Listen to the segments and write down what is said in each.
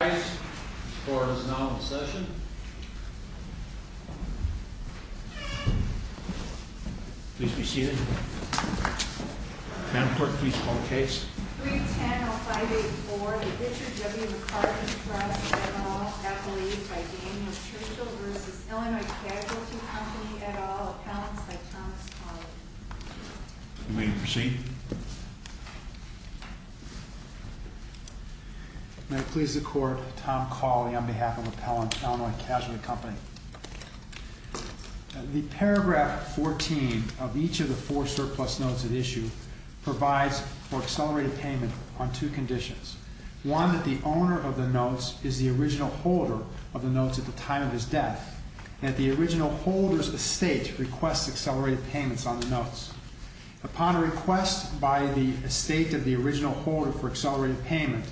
310-0584 Richard W. McCarthy Trust, et al. Appellees by Daniel Churchill v. Illinois Casualty Company, et al. Appellants by Thomas Colley The paragraph 14 of each of the four surplus notes at issue provides for accelerated payment on two conditions. One, that the owner of the notes is the original holder of the notes at the time of his death, and that the original holder's estate requests accelerated payments on the notes. Upon request by the estate of the original holder for accelerated payment,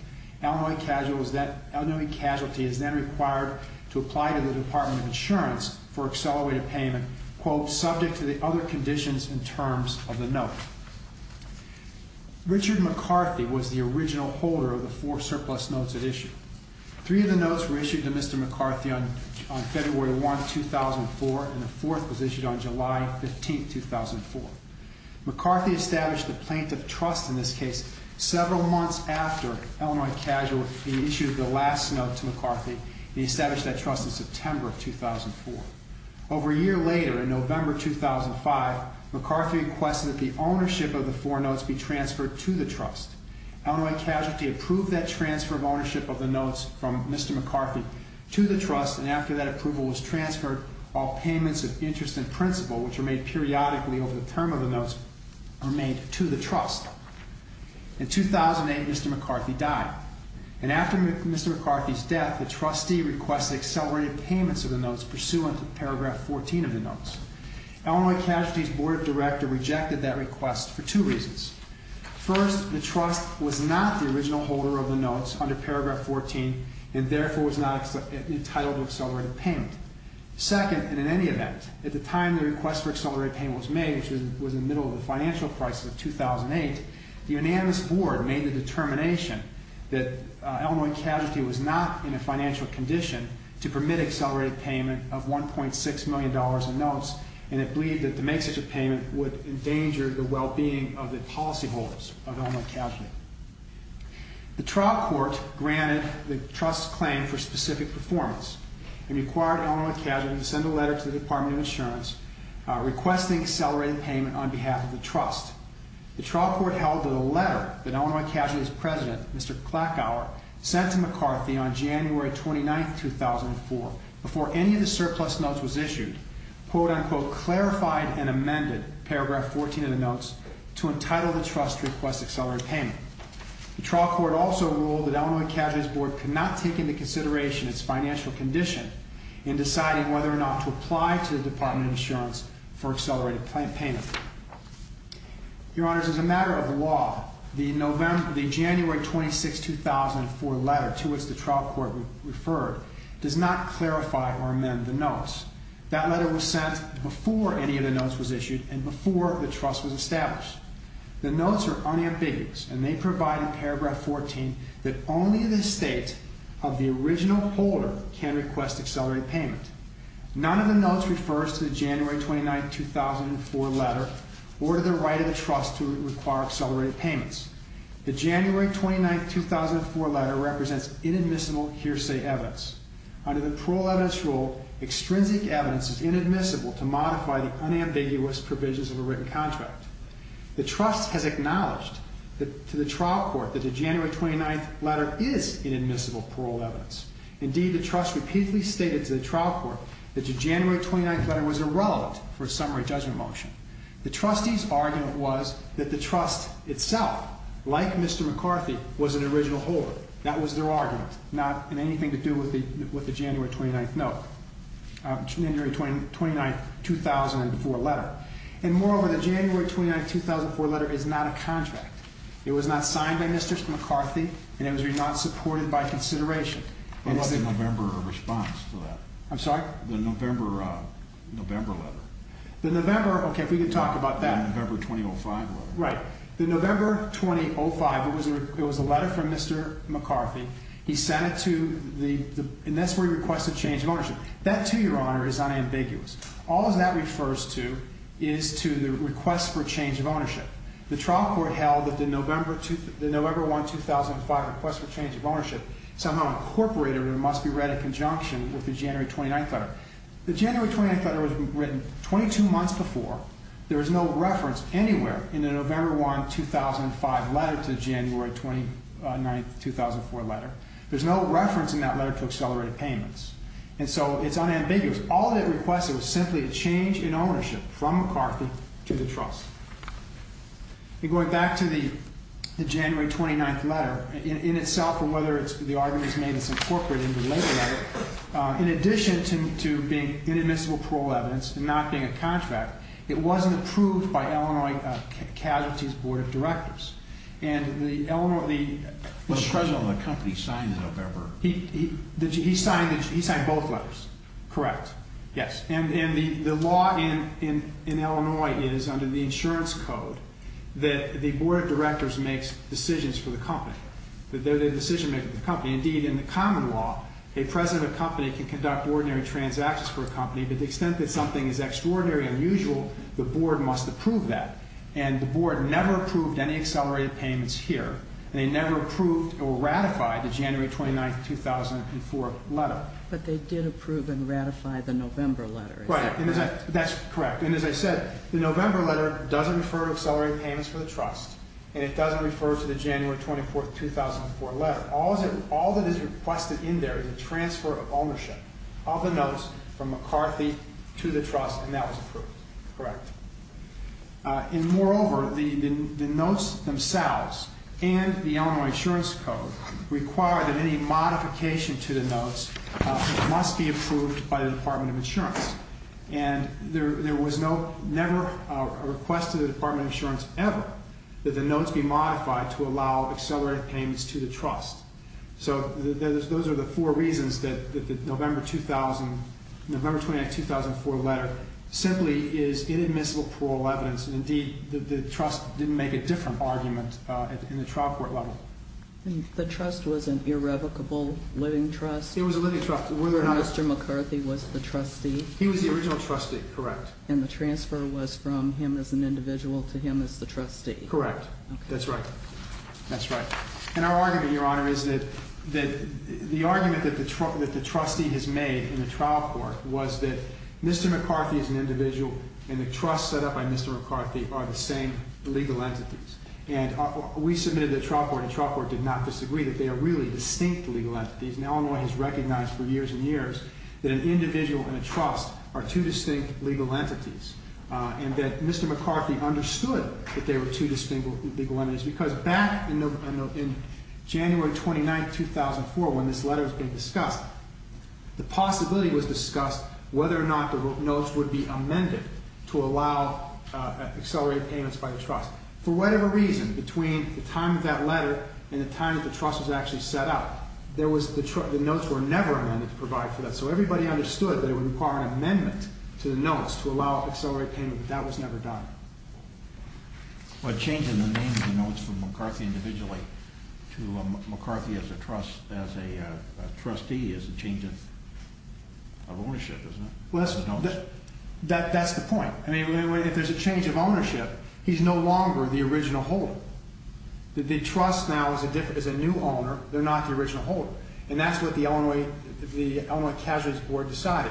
Illinois Casualty is then required to apply to the Department of Insurance for accelerated payment, quote, subject to the other conditions and terms of the note. Richard McCarthy was the original holder of the four surplus notes at issue. Three of the notes were issued to Mr. McCarthy on February 1, 2004, and the fourth was issued on July 15, 2004. McCarthy established a plaintiff trust in this case several months after Illinois Casualty issued the last note to McCarthy. He established that trust in September of 2004. Over a year later, in November 2005, McCarthy requested that the ownership of the four notes be transferred to the trust. Illinois Casualty approved that transfer of ownership of the notes from Mr. McCarthy to the trust, and after that approval was transferred, all payments of interest and principal, which are made periodically over the term of the notes, are made to the trust. In 2008, Mr. McCarthy died, and after Mr. McCarthy's death, the trustee requested accelerated payments of the notes pursuant to paragraph 14 of the notes. Illinois Casualty's board of directors rejected that request for two reasons. First, the trust was not the original holder of the notes under paragraph 14, and therefore was not entitled to accelerated payment. Second, and in any event, at the time the request for accelerated payment was made, which was in the middle of the financial crisis of 2008, the unanimous board made the determination that Illinois Casualty was not in a financial condition to permit accelerated payment of $1.6 million in notes, and it believed that to make such a payment would endanger the well-being of the public. The trial court granted the trust's claim for specific performance and required Illinois Casualty to send a letter to the Department of Insurance requesting accelerated payment on behalf of the trust. The trial court held that a letter that Illinois Casualty's president, Mr. Klackauer, sent to McCarthy on January 29, 2004, before any of the surplus notes was issued, quote-unquote, clarified and amended paragraph 14 of the notes to entitle the trust to pay $1.6 million. The trial court also ruled that Illinois Casualty's board could not take into consideration its financial condition in deciding whether or not to apply to the Department of Insurance for accelerated payment. Your Honors, as a matter of law, the January 26, 2004 letter to which the trial court referred does not clarify or amend the notes. That letter was sent before any of the notes was issued and before the trust was established. The notes are unambiguous, and they provide in paragraph 14 that only the estate of the original holder can request accelerated payment. None of the notes refers to the January 29, 2004 letter or to the right of the trust to require accelerated payments. The January 29, 2004 letter represents inadmissible hearsay evidence. Under the parole evidence rule, extrinsic evidence is inadmissible to modify the unambiguous provisions of a written contract. The trust has acknowledged to the trial court that the January 29 letter is inadmissible parole evidence. Indeed, the trust repeatedly stated to the trial court that the January 29 letter was irrelevant for a summary judgment motion. The trustee's argument was that the trust itself, like Mr. McCarthy, was an original holder. That was their argument, not in anything to do with the January 29, 2004 letter. And moreover, the January 29, 2004 letter is not a contract. It was not signed by Mr. McCarthy, and it was not supported by consideration. What was the November response to that? I'm sorry? The November letter. The November, okay, if we can talk about that. The November 2005 letter. Right. The November 2005, it was a letter from Mr. McCarthy. He sent it to the, and that's where he requested change of ownership. That, too, Your Honor, is unambiguous. All that refers to is to the request for change of ownership. The trial court held that the November 2005 request for change of ownership somehow incorporated or must be read in conjunction with the January 29 letter. The January 29 letter was written 22 months before. There was no reference anywhere in the November 2005 letter to the January 29, 2004 letter. There's no reference in that letter to accelerated payments. And so it's unambiguous. All it requested was simply a change in ownership from McCarthy to the trust. And going back to the January 29 letter, in itself, or whether the argument is made that it's incorporated in the later letter, in addition to being inadmissible parole evidence and not being a contract, it wasn't approved by Illinois Casualties Board of Directors. The President of the company signed the November. He signed both letters. Correct. Yes. And the law in Illinois is, under the insurance code, that the Board of Directors makes decisions for the company. They're the decision makers of the company. Indeed, in the common law, a president of a company can conduct ordinary transactions for a company, but the extent that something is extraordinary or unusual, the board must approve that. And the board never approved any accelerated payments here, and they never approved or ratified the January 29, 2004 letter. But they did approve and ratify the November letter. Right. That's correct. And as I said, the November letter doesn't refer to accelerated payments for the trust, and it doesn't refer to the January 24, 2004 letter. All that is requested in there is a transfer of ownership of the notes from McCarthy to the trust, and that was approved. Correct. And moreover, the notes themselves and the Illinois insurance code require that any modification to the notes must be approved by the Department of Insurance. And there was never a request to the Department of Insurance ever that the notes be modified to allow accelerated payments to the trust. So those are the four reasons that the November 29, 2004 letter simply is inadmissible parole evidence, and indeed, the trust didn't make a different argument in the trial court level. The trust was an irrevocable living trust? It was a living trust. Mr. McCarthy was the trustee? He was the original trustee, correct. And the transfer was from him as an individual to him as the trustee? Correct. That's right. That's right. And our argument, Your Honor, is that the argument that the trustee has made in the trial court was that Mr. McCarthy is an individual, and the trust set up by Mr. McCarthy are the same legal entities. And we submitted the trial court, and the trial court did not disagree that they are really distinct legal entities. And Illinois has recognized for years and years that an individual and a trust are two distinct legal entities, and that Mr. McCarthy understood that they were two distinct legal entities. Because back in January 29, 2004, when this letter was being discussed, the possibility was discussed whether or not the notes would be amended to allow accelerated payments by the trust. For whatever reason, between the time of that letter and the time that the trust was actually set up, the notes were never amended to provide for that. So everybody understood that it would require an amendment to the notes to allow accelerated payment, but that was never done. But changing the names of the notes from McCarthy individually to McCarthy as a trustee is a change of ownership, isn't it? Well, that's the point. I mean, if there's a change of ownership, he's no longer the original holder. The trust now is a new owner. They're not the original holder. And that's what the Illinois Casualties Board decided.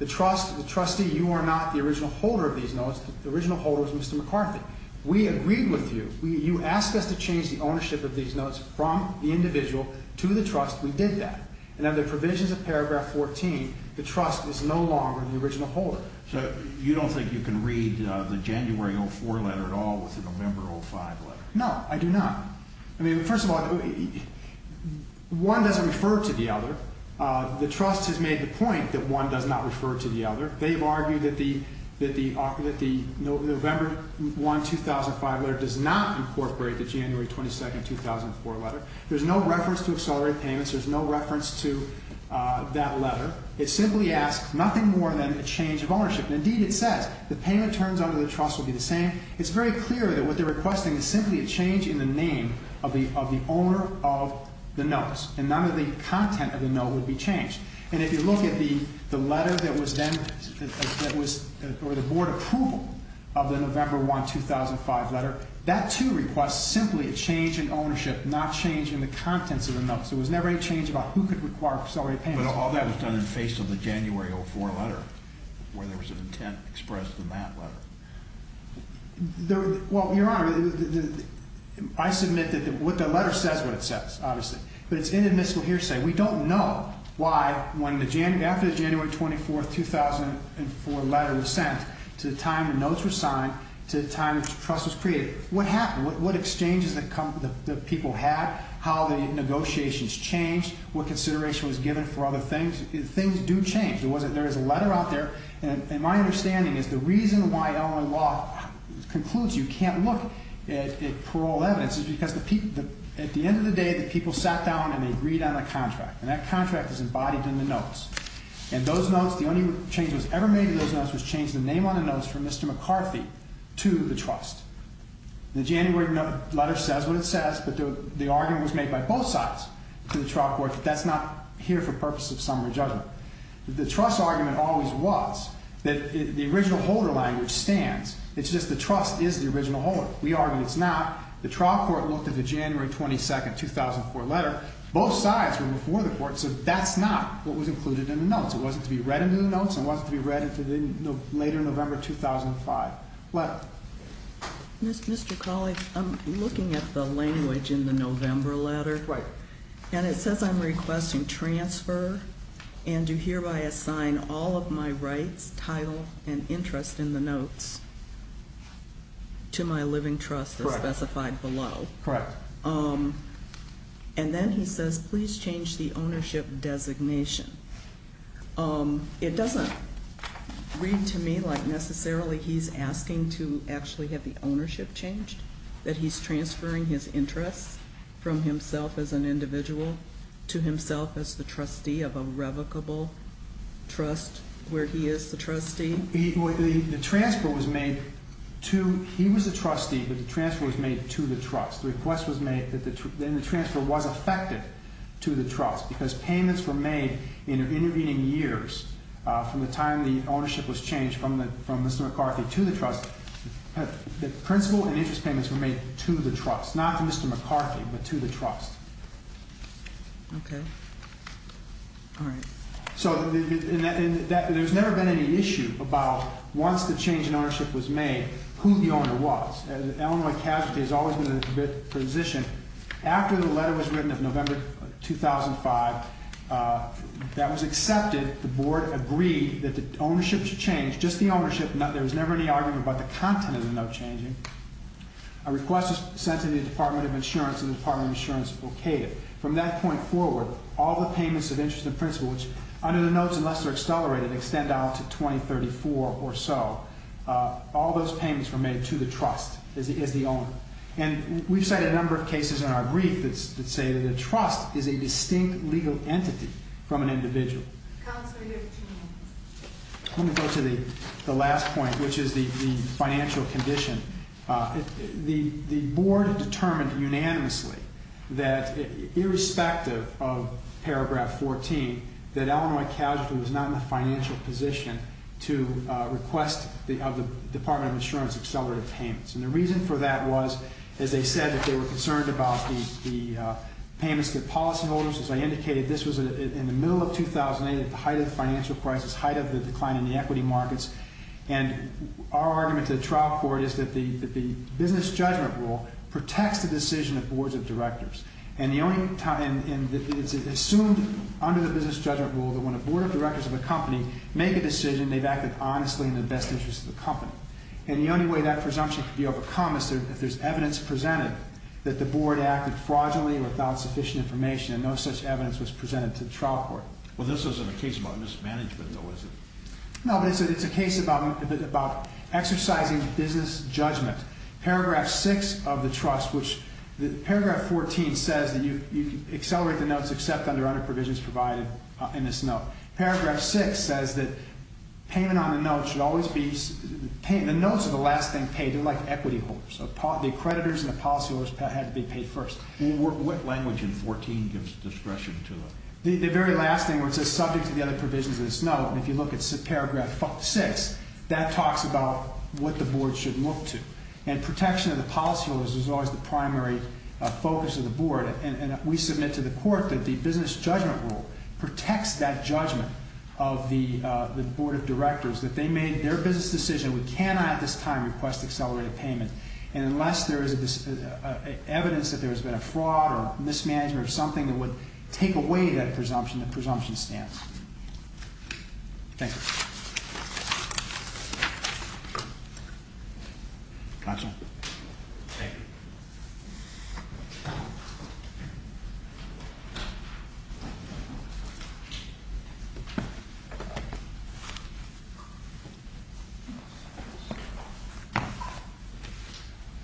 The trust, the trustee, you are not the original holder of these notes. The original holder is Mr. McCarthy. We agreed with you. You asked us to change the ownership of these notes from the individual to the trust. We did that. And under provisions of paragraph 14, the trust is no longer the original holder. So you don't think you can read the January 04 letter at all with the November 05 letter? No, I do not. I mean, first of all, one doesn't refer to the other. The trust has made the point that one does not refer to the other. They've argued that the November 1, 2005 letter does not incorporate the January 22, 2004 letter. There's no reference to accelerated payments. There's no reference to that letter. It simply asks nothing more than a change of ownership. And, indeed, it says the payment terms under the trust will be the same. It's very clear that what they're requesting is simply a change in the name of the owner of the notes. And none of the content of the note would be changed. And if you look at the letter that was then or the board approval of the November 1, 2005 letter, that, too, requests simply a change in ownership, not change in the contents of the notes. There was never any change about who could require accelerated payments. But all that was done in the face of the January 04 letter where there was an intent expressed in that letter. Well, Your Honor, I submit that the letter says what it says, obviously. But it's inadmissible hearsay. We don't know why after the January 24, 2004 letter was sent to the time the notes were signed to the time the trust was created, what happened, what exchanges the people had, how the negotiations changed, what consideration was given for other things. Things do change. There is a letter out there, and my understanding is the reason why Illinois law concludes you can't look at parole evidence is because at the end of the day, the people sat down and they agreed on a contract. And that contract is embodied in the notes. And those notes, the only change that was ever made to those notes was change the name on the notes from Mr. McCarthy to the trust. The January letter says what it says, but the argument was made by both sides to the trial court that that's not here for purpose of summary judgment. The trust argument always was that the original holder language stands. It's just the trust is the original holder. We argue it's not. The trial court looked at the January 22, 2004 letter. Both sides were before the court, so that's not what was included in the notes. It wasn't to be read into the notes. It wasn't to be read into the later November 2005 letter. Mr. Colley, I'm looking at the language in the November letter. Right. And it says I'm requesting transfer and do hereby assign all of my rights, title, and interest in the notes to my living trust as specified below. Correct. And then he says please change the ownership designation. It doesn't read to me like necessarily he's asking to actually have the ownership changed, that he's transferring his interests from himself as an individual to himself as the trustee of a revocable trust where he is the trustee. The transfer was made to he was a trustee, but the transfer was made to the trust. The request was made and the transfer was affected to the trust because payments were made in intervening years from the time the ownership was changed from Mr. McCarthy to the trust. The principal and interest payments were made to the trust, not to Mr. McCarthy, but to the trust. Okay. All right. So there's never been any issue about once the change in ownership was made, who the owner was. The Illinois casualty has always been in a good position. After the letter was written in November 2005 that was accepted, the board agreed that the ownership should change, just the ownership. There was never any argument about the content of the note changing. A request was sent to the Department of Insurance and the Department of Insurance okayed it. From that point forward, all the payments of interest to the principal, which under the notes, unless they're accelerated, extend out to 2034 or so, all those payments were made to the trust as the owner. And we've cited a number of cases in our brief that say that a trust is a distinct legal entity from an individual. Counselor, you have two minutes. Let me go to the last point, which is the financial condition. The board determined unanimously that, irrespective of paragraph 14, that Illinois casualty was not in a financial position to request of the Department of Insurance accelerated payments. And the reason for that was, as they said, that they were concerned about the payments to the policyholders. As I indicated, this was in the middle of 2008 at the height of the financial crisis, height of the decline in the equity markets. And our argument to the trial court is that the business judgment rule protects the decision of boards of directors. And it's assumed under the business judgment rule that when a board of directors of a company make a decision, they've acted honestly in the best interest of the company. And the only way that presumption can be overcome is if there's evidence presented that the board acted fraudulently or without sufficient information and no such evidence was presented to the trial court. Well, this isn't a case about mismanagement, though, is it? No, but it's a case about exercising business judgment. Paragraph 6 of the trust, which paragraph 14 says that you accelerate the notes except under other provisions provided in this note. Paragraph 6 says that payment on the notes should always be – the notes are the last thing paid. They're like equity holders. The creditors and the policyholders had to be paid first. What language in 14 gives discretion to the – the very last thing where it says subject to the other provisions of this note. And if you look at paragraph 6, that talks about what the board should look to. And protection of the policyholders is always the primary focus of the board. And we submit to the court that the business judgment rule protects that judgment of the board of directors, that they made their business decision. We cannot at this time request accelerated payment. And unless there is evidence that there has been a fraud or mismanagement of something that would take away that presumption, the presumption stands. Thank you. Counsel.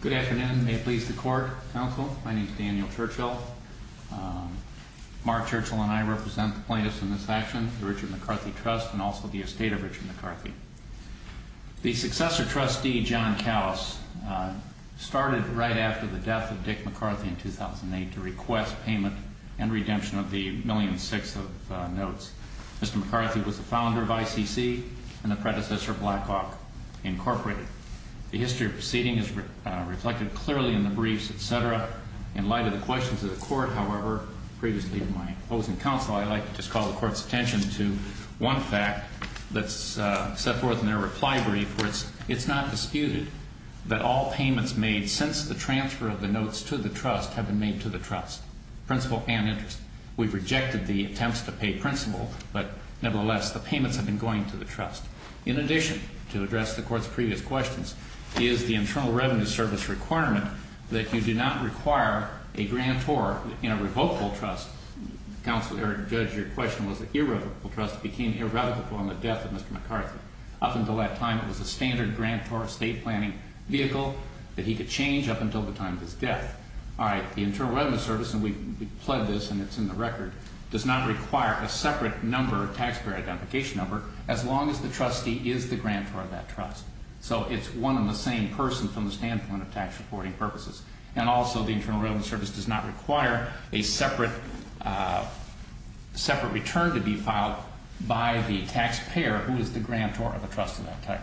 Good afternoon. May it please the court. Counsel, my name is Daniel Churchill. Mark Churchill and I represent the plaintiffs in this action, the Richard McCarthy Trust, and also the estate of Richard McCarthy. The successor trustee, John Callis, started right after the death of Dick McCarthy in 2008 to request payment and redemption of the $1.6 million of notes. Mr. McCarthy was the founder of ICC and the predecessor of Blackhawk Incorporated. The history of proceeding is reflected clearly in the briefs, et cetera. In light of the questions of the court, however, previously in my opposing counsel, I'd like to just call the court's attention to one fact that's set forth in their reply brief, which it's not disputed that all payments made since the transfer of the notes to the trust have been made to the trust, principal and interest. We've rejected the attempts to pay principal, but nevertheless, the payments have been going to the trust. In addition, to address the court's previous questions, is the Internal Revenue Service requirement that you do not require a grantor in a revocable trust. Counsel, Judge, your question was that irrevocable trust became irrevocable on the death of Mr. McCarthy. Up until that time, it was a standard grantor estate planning vehicle that he could change up until the time of his death. All right, the Internal Revenue Service, and we've pledged this and it's in the record, does not require a separate taxpayer identification number as long as the trustee is the grantor of that trust. So it's one and the same person from the standpoint of tax reporting purposes. And also, the Internal Revenue Service does not require a separate return to be filed by the taxpayer who is the grantor of a trust of that type.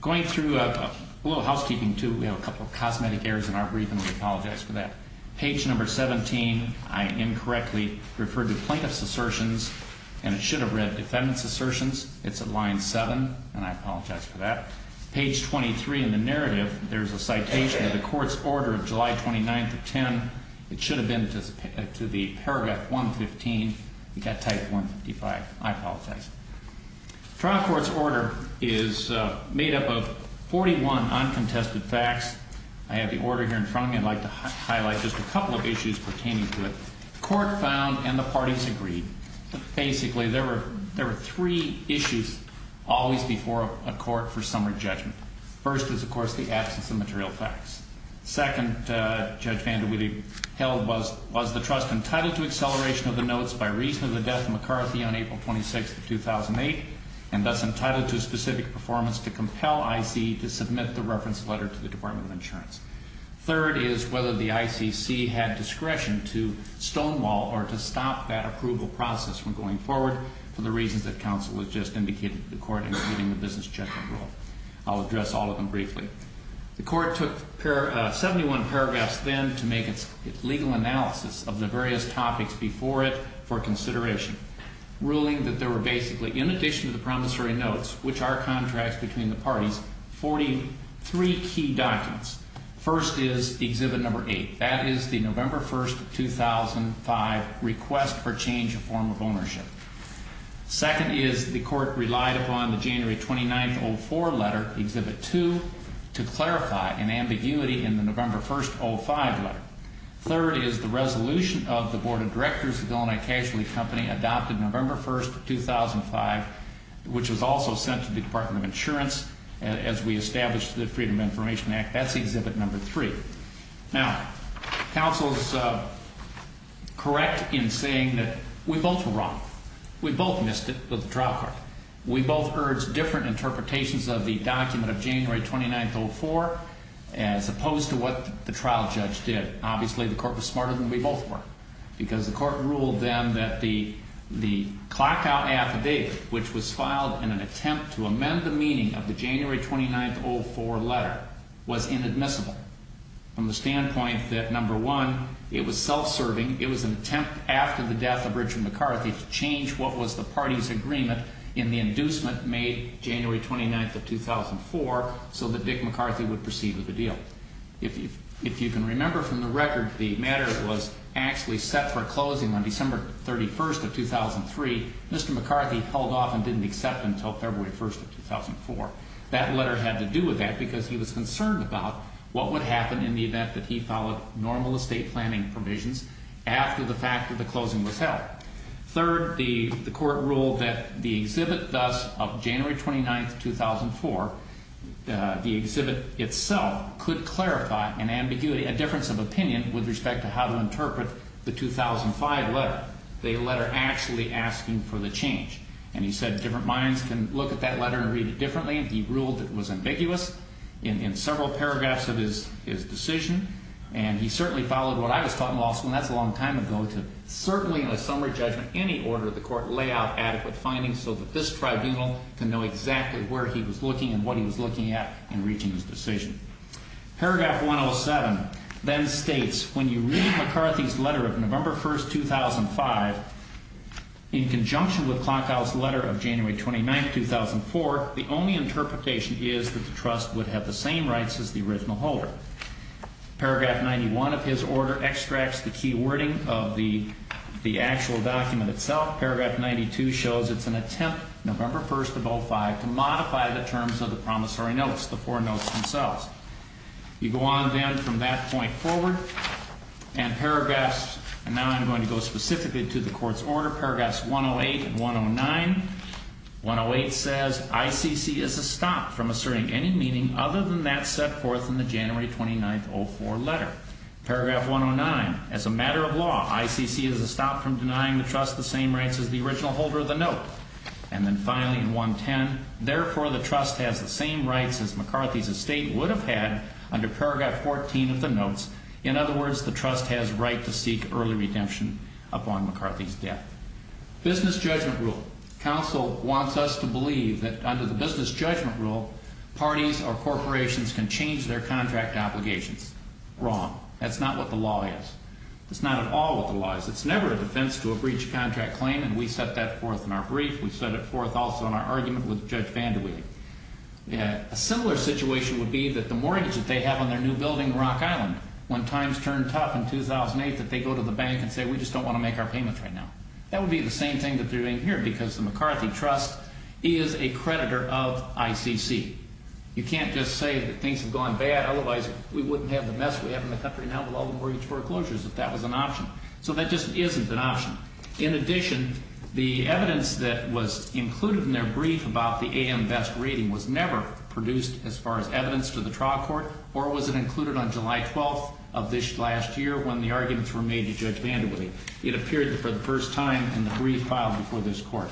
Going through a little housekeeping, too, we have a couple of cosmetic errors in our briefing. We apologize for that. Page number 17, I incorrectly referred to plaintiff's assertions, and it should have read defendant's assertions. It's at line 7, and I apologize for that. Page 23 in the narrative, there's a citation of the court's order of July 29th of 10. It should have been to the paragraph 115. We got type 155. I apologize. Trial court's order is made up of 41 uncontested facts. I have the order here in front of me. I'd like to highlight just a couple of issues pertaining to it. Court found and the parties agreed that basically there were three issues always before a court for summary judgment. First is, of course, the absence of material facts. Second, Judge Vandewiede held was the trust entitled to acceleration of the notes by reason of the death of McCarthy on April 26th of 2008 and thus entitled to a specific performance to compel IC to submit the reference letter to the Department of Insurance. Third is whether the ICC had discretion to stonewall or to stop that approval process from going forward for the reasons that counsel has just indicated to the court, including the business judgment rule. I'll address all of them briefly. The court took 71 paragraphs then to make its legal analysis of the various topics before it for consideration, ruling that there were basically, in addition to the promissory notes, which are contracts between the parties, 43 key documents. First is exhibit number eight. That is the November 1st of 2005 request for change of form of ownership. Second is the court relied upon the January 29th, 2004 letter, exhibit two, to clarify an ambiguity in the November 1st, 2005 letter. Third is the resolution of the Board of Directors of the Illinois Casualty Company adopted November 1st, 2005, which was also sent to the Department of Insurance as we established the Freedom of Information Act. That's exhibit number three. Now, counsel is correct in saying that we both were wrong. We both missed it with the trial court. We both urged different interpretations of the document of January 29th, 2004 as opposed to what the trial judge did. Obviously, the court was smarter than we both were because the court ruled then that the clocked-out affidavit, which was filed in an attempt to amend the meaning of the January 29th, 2004 letter, was inadmissible from the standpoint that, number one, it was self-serving. It was an attempt after the death of Richard McCarthy to change what was the party's agreement in the inducement made January 29th of 2004 so that Dick McCarthy would proceed with the deal. If you can remember from the record, the matter was actually set for closing on December 31st of 2003. Mr. McCarthy held off and didn't accept until February 1st of 2004. That letter had to do with that because he was concerned about what would happen in the event that he followed normal estate planning provisions after the fact that the closing was held. Third, the court ruled that the exhibit thus of January 29th, 2004, the exhibit itself, could clarify an ambiguity, a difference of opinion with respect to how to interpret the 2005 letter, the letter actually asking for the change. And he said different minds can look at that letter and read it differently. He ruled it was ambiguous in several paragraphs of his decision. And he certainly followed what I was taught in law school, and that's a long time ago, to certainly in a summary judgment in any order the court lay out adequate findings so that this tribunal can know exactly where he was looking and what he was looking at in reaching his decision. Paragraph 107 then states, when you read McCarthy's letter of November 1st, 2005, in conjunction with Klockau's letter of January 29th, 2004, the only interpretation is that the trust would have the same rights as the original holder. Paragraph 91 of his order extracts the key wording of the actual document itself. Paragraph 92 shows it's an attempt, November 1st, 2005, to modify the terms of the promissory notes, the four notes themselves. You go on then from that point forward, and paragraphs, and now I'm going to go specifically to the court's order, paragraphs 108 and 109. 108 says, ICC is a stop from asserting any meaning other than that set forth in the January 29th, 2004 letter. Paragraph 109, as a matter of law, ICC is a stop from denying the trust the same rights as the original holder of the note. And then finally in 110, therefore the trust has the same rights as McCarthy's estate would have had under paragraph 14 of the notes. In other words, the trust has right to seek early redemption upon McCarthy's death. Business judgment rule. Counsel wants us to believe that under the business judgment rule, parties or corporations can change their contract obligations. Wrong. That's not what the law is. That's not at all what the law is. It's never a defense to a breach of contract claim, and we set that forth in our brief. We set it forth also in our argument with Judge Vandewiele. A similar situation would be that the mortgage that they have on their new building in Rock Island, when times turned tough in 2008, that they go to the bank and say, we just don't want to make our payments right now. That would be the same thing that they're doing here because the McCarthy Trust is a creditor of ICC. You can't just say that things have gone bad, otherwise we wouldn't have the mess we have in the country now with all the mortgage foreclosures if that was an option. So that just isn't an option. In addition, the evidence that was included in their brief about the AM Best rating was never produced as far as evidence to the trial court, or was it included on July 12th of this last year when the arguments were made to Judge Vandewiele. It appeared for the first time in the brief filed before this court.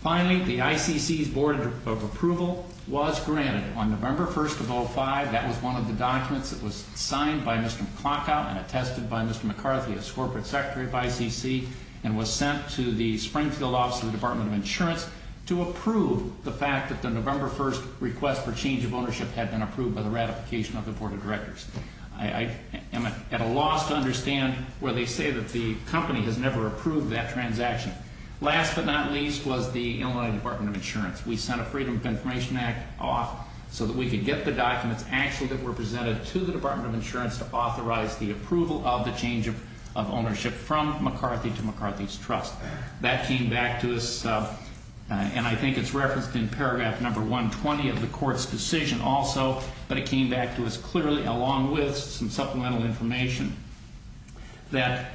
Finally, the ICC's Board of Approval was granted on November 1st of 2005. That was one of the documents that was signed by Mr. McClockout and attested by Mr. McCarthy as Corporate Secretary of ICC, and was sent to the Springfield Office of the Department of Insurance to approve the fact that the November 1st request for change of ownership had been approved by the ratification of the Board of Directors. I am at a loss to understand where they say that the company has never approved that transaction. Last but not least was the Illinois Department of Insurance. We sent a Freedom of Information Act off so that we could get the documents actually that were presented to the Department of Insurance to authorize the approval of the change of ownership from McCarthy to McCarthy's Trust. That came back to us, and I think it's referenced in paragraph number 120 of the court's decision also, but it came back to us clearly, along with some supplemental information, that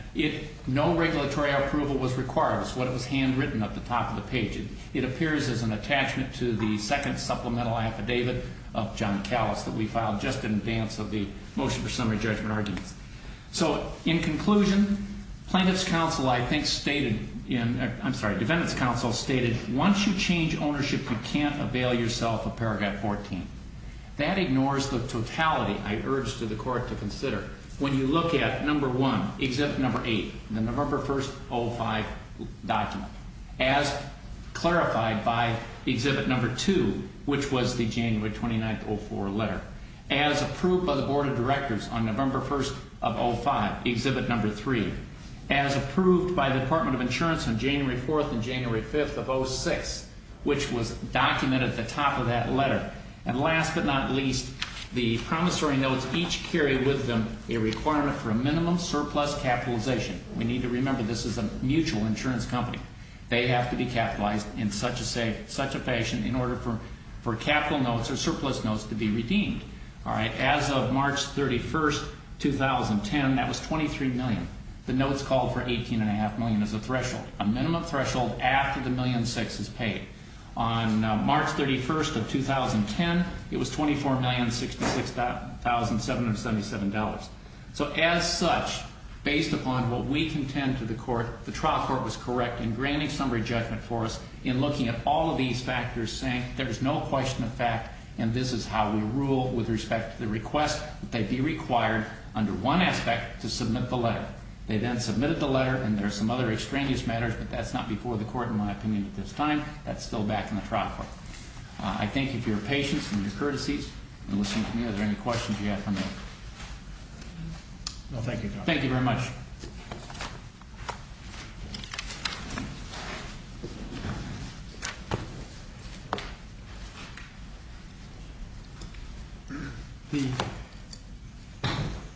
no regulatory approval was required. It's what was handwritten at the top of the page. It appears as an attachment to the second supplemental affidavit of John Callas that we filed just in advance of the motion for summary judgment arguments. So, in conclusion, plaintiff's counsel, I think, stated in... I'm sorry, defendant's counsel stated once you change ownership, you can't avail yourself of paragraph 14. That ignores the totality I urge the court to consider. When you look at number one, exhibit number eight, the November 1st, 05 document, as clarified by exhibit number two, which was the January 29th, 04 letter, as approved by the Board of Directors on November 1st of 05, exhibit number three, as approved by the Department of Insurance on January 4th and January 5th of 06, which was documented at the top of that letter. And last but not least, the promissory notes each carry with them a requirement for a minimum surplus capitalization. We need to remember this is a mutual insurance company. They have to be capitalized in such a fashion in order for capital notes or surplus notes to be redeemed. As of March 31st, 2010, that was $23 million. The notes call for $18.5 million as a threshold, a minimum threshold after the $1.6 million is paid. On March 31st of 2010, it was $24,066,777. So as such, based upon what we contend to the court, the trial court was correct in granting summary judgment for us in looking at all of these factors, saying there's no question of fact and this is how we rule with respect to the request that they be required under one aspect to submit the letter. They then submitted the letter and there are some other extraneous matters, but that's not before the court in my opinion at this time. That's still back in the trial court. I thank you for your patience and your courtesies. And listen to me, are there any questions you have for me? No, thank you, Judge. Thank you very much.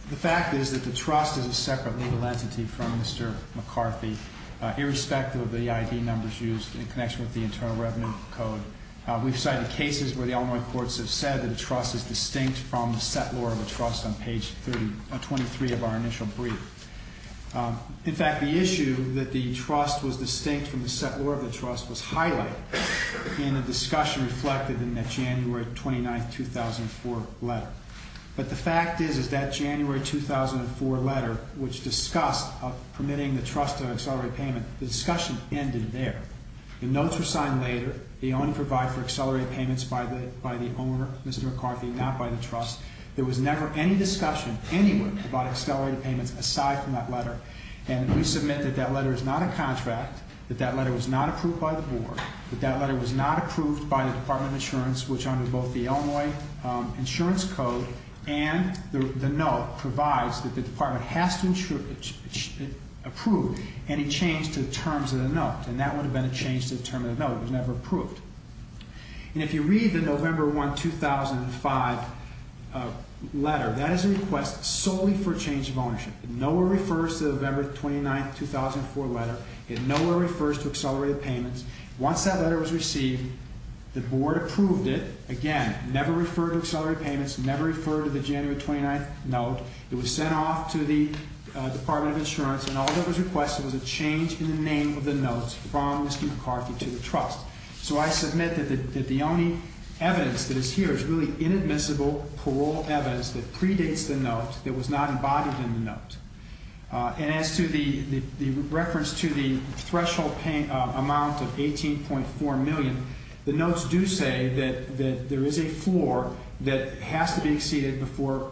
The fact is that the trust is a separate legal entity from Mr. McCarthy, irrespective of the ID numbers used in connection with the Internal Revenue Code. We've cited cases where the Illinois courts have said that a trust is distinct from the set law of the trust on page 23 of our initial brief. In fact, the issue that the trust was distinct from the set law of the trust was highlighted in a discussion reflected in that January 29, 2004 letter. But the fact is that January 2004 letter, which discussed permitting the trust to accelerate payment, the discussion ended there. The notes were signed later. They only provide for accelerated payments by the owner, Mr. McCarthy, not by the trust. There was never any discussion anywhere about accelerated payments aside from that letter. And we submit that that letter is not a contract, that that letter was not approved by the board, that that letter was not approved by the Department of Insurance, which under both the Illinois Insurance Code and the note provides that the department has to approve any change to the terms of the note. And that would have been a change to the terms of the note. It was never approved. And if you read the November 1, 2005 letter, that is a request solely for change of ownership. It nowhere refers to the November 29, 2004 letter. It nowhere refers to accelerated payments. Once that letter was received, the board approved it. Again, never referred to accelerated payments, It was sent off to the Department of Insurance, and all that was requested was a change in the name of the note from Mr. McCarthy to the trust. So I submit that the only evidence that is here is really inadmissible parole evidence that predates the note that was not embodied in the note. And as to the reference to the threshold amount of $18.4 million, the notes do say that there is a floor that has to be exceeded before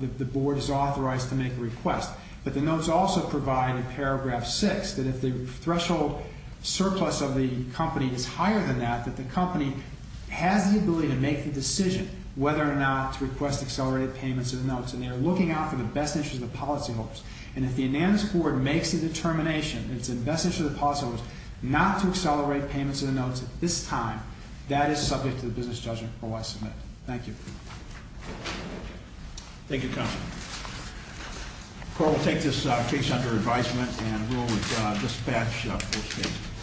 the board is authorized to make a request. But the notes also provide, in paragraph 6, that if the threshold surplus of the company is higher than that, that the company has the ability to make the decision whether or not to request accelerated payments of the notes. And they are looking out for the best interest of the policyholders. And if the Anandis Board makes the determination that it's in the best interest of the policyholders not to accelerate payments of the notes at this time, that is subject to the business judgment, or I submit. Thank you. Thank you, counsel. The court will take this case under advisement and rule with dispatch of the first case.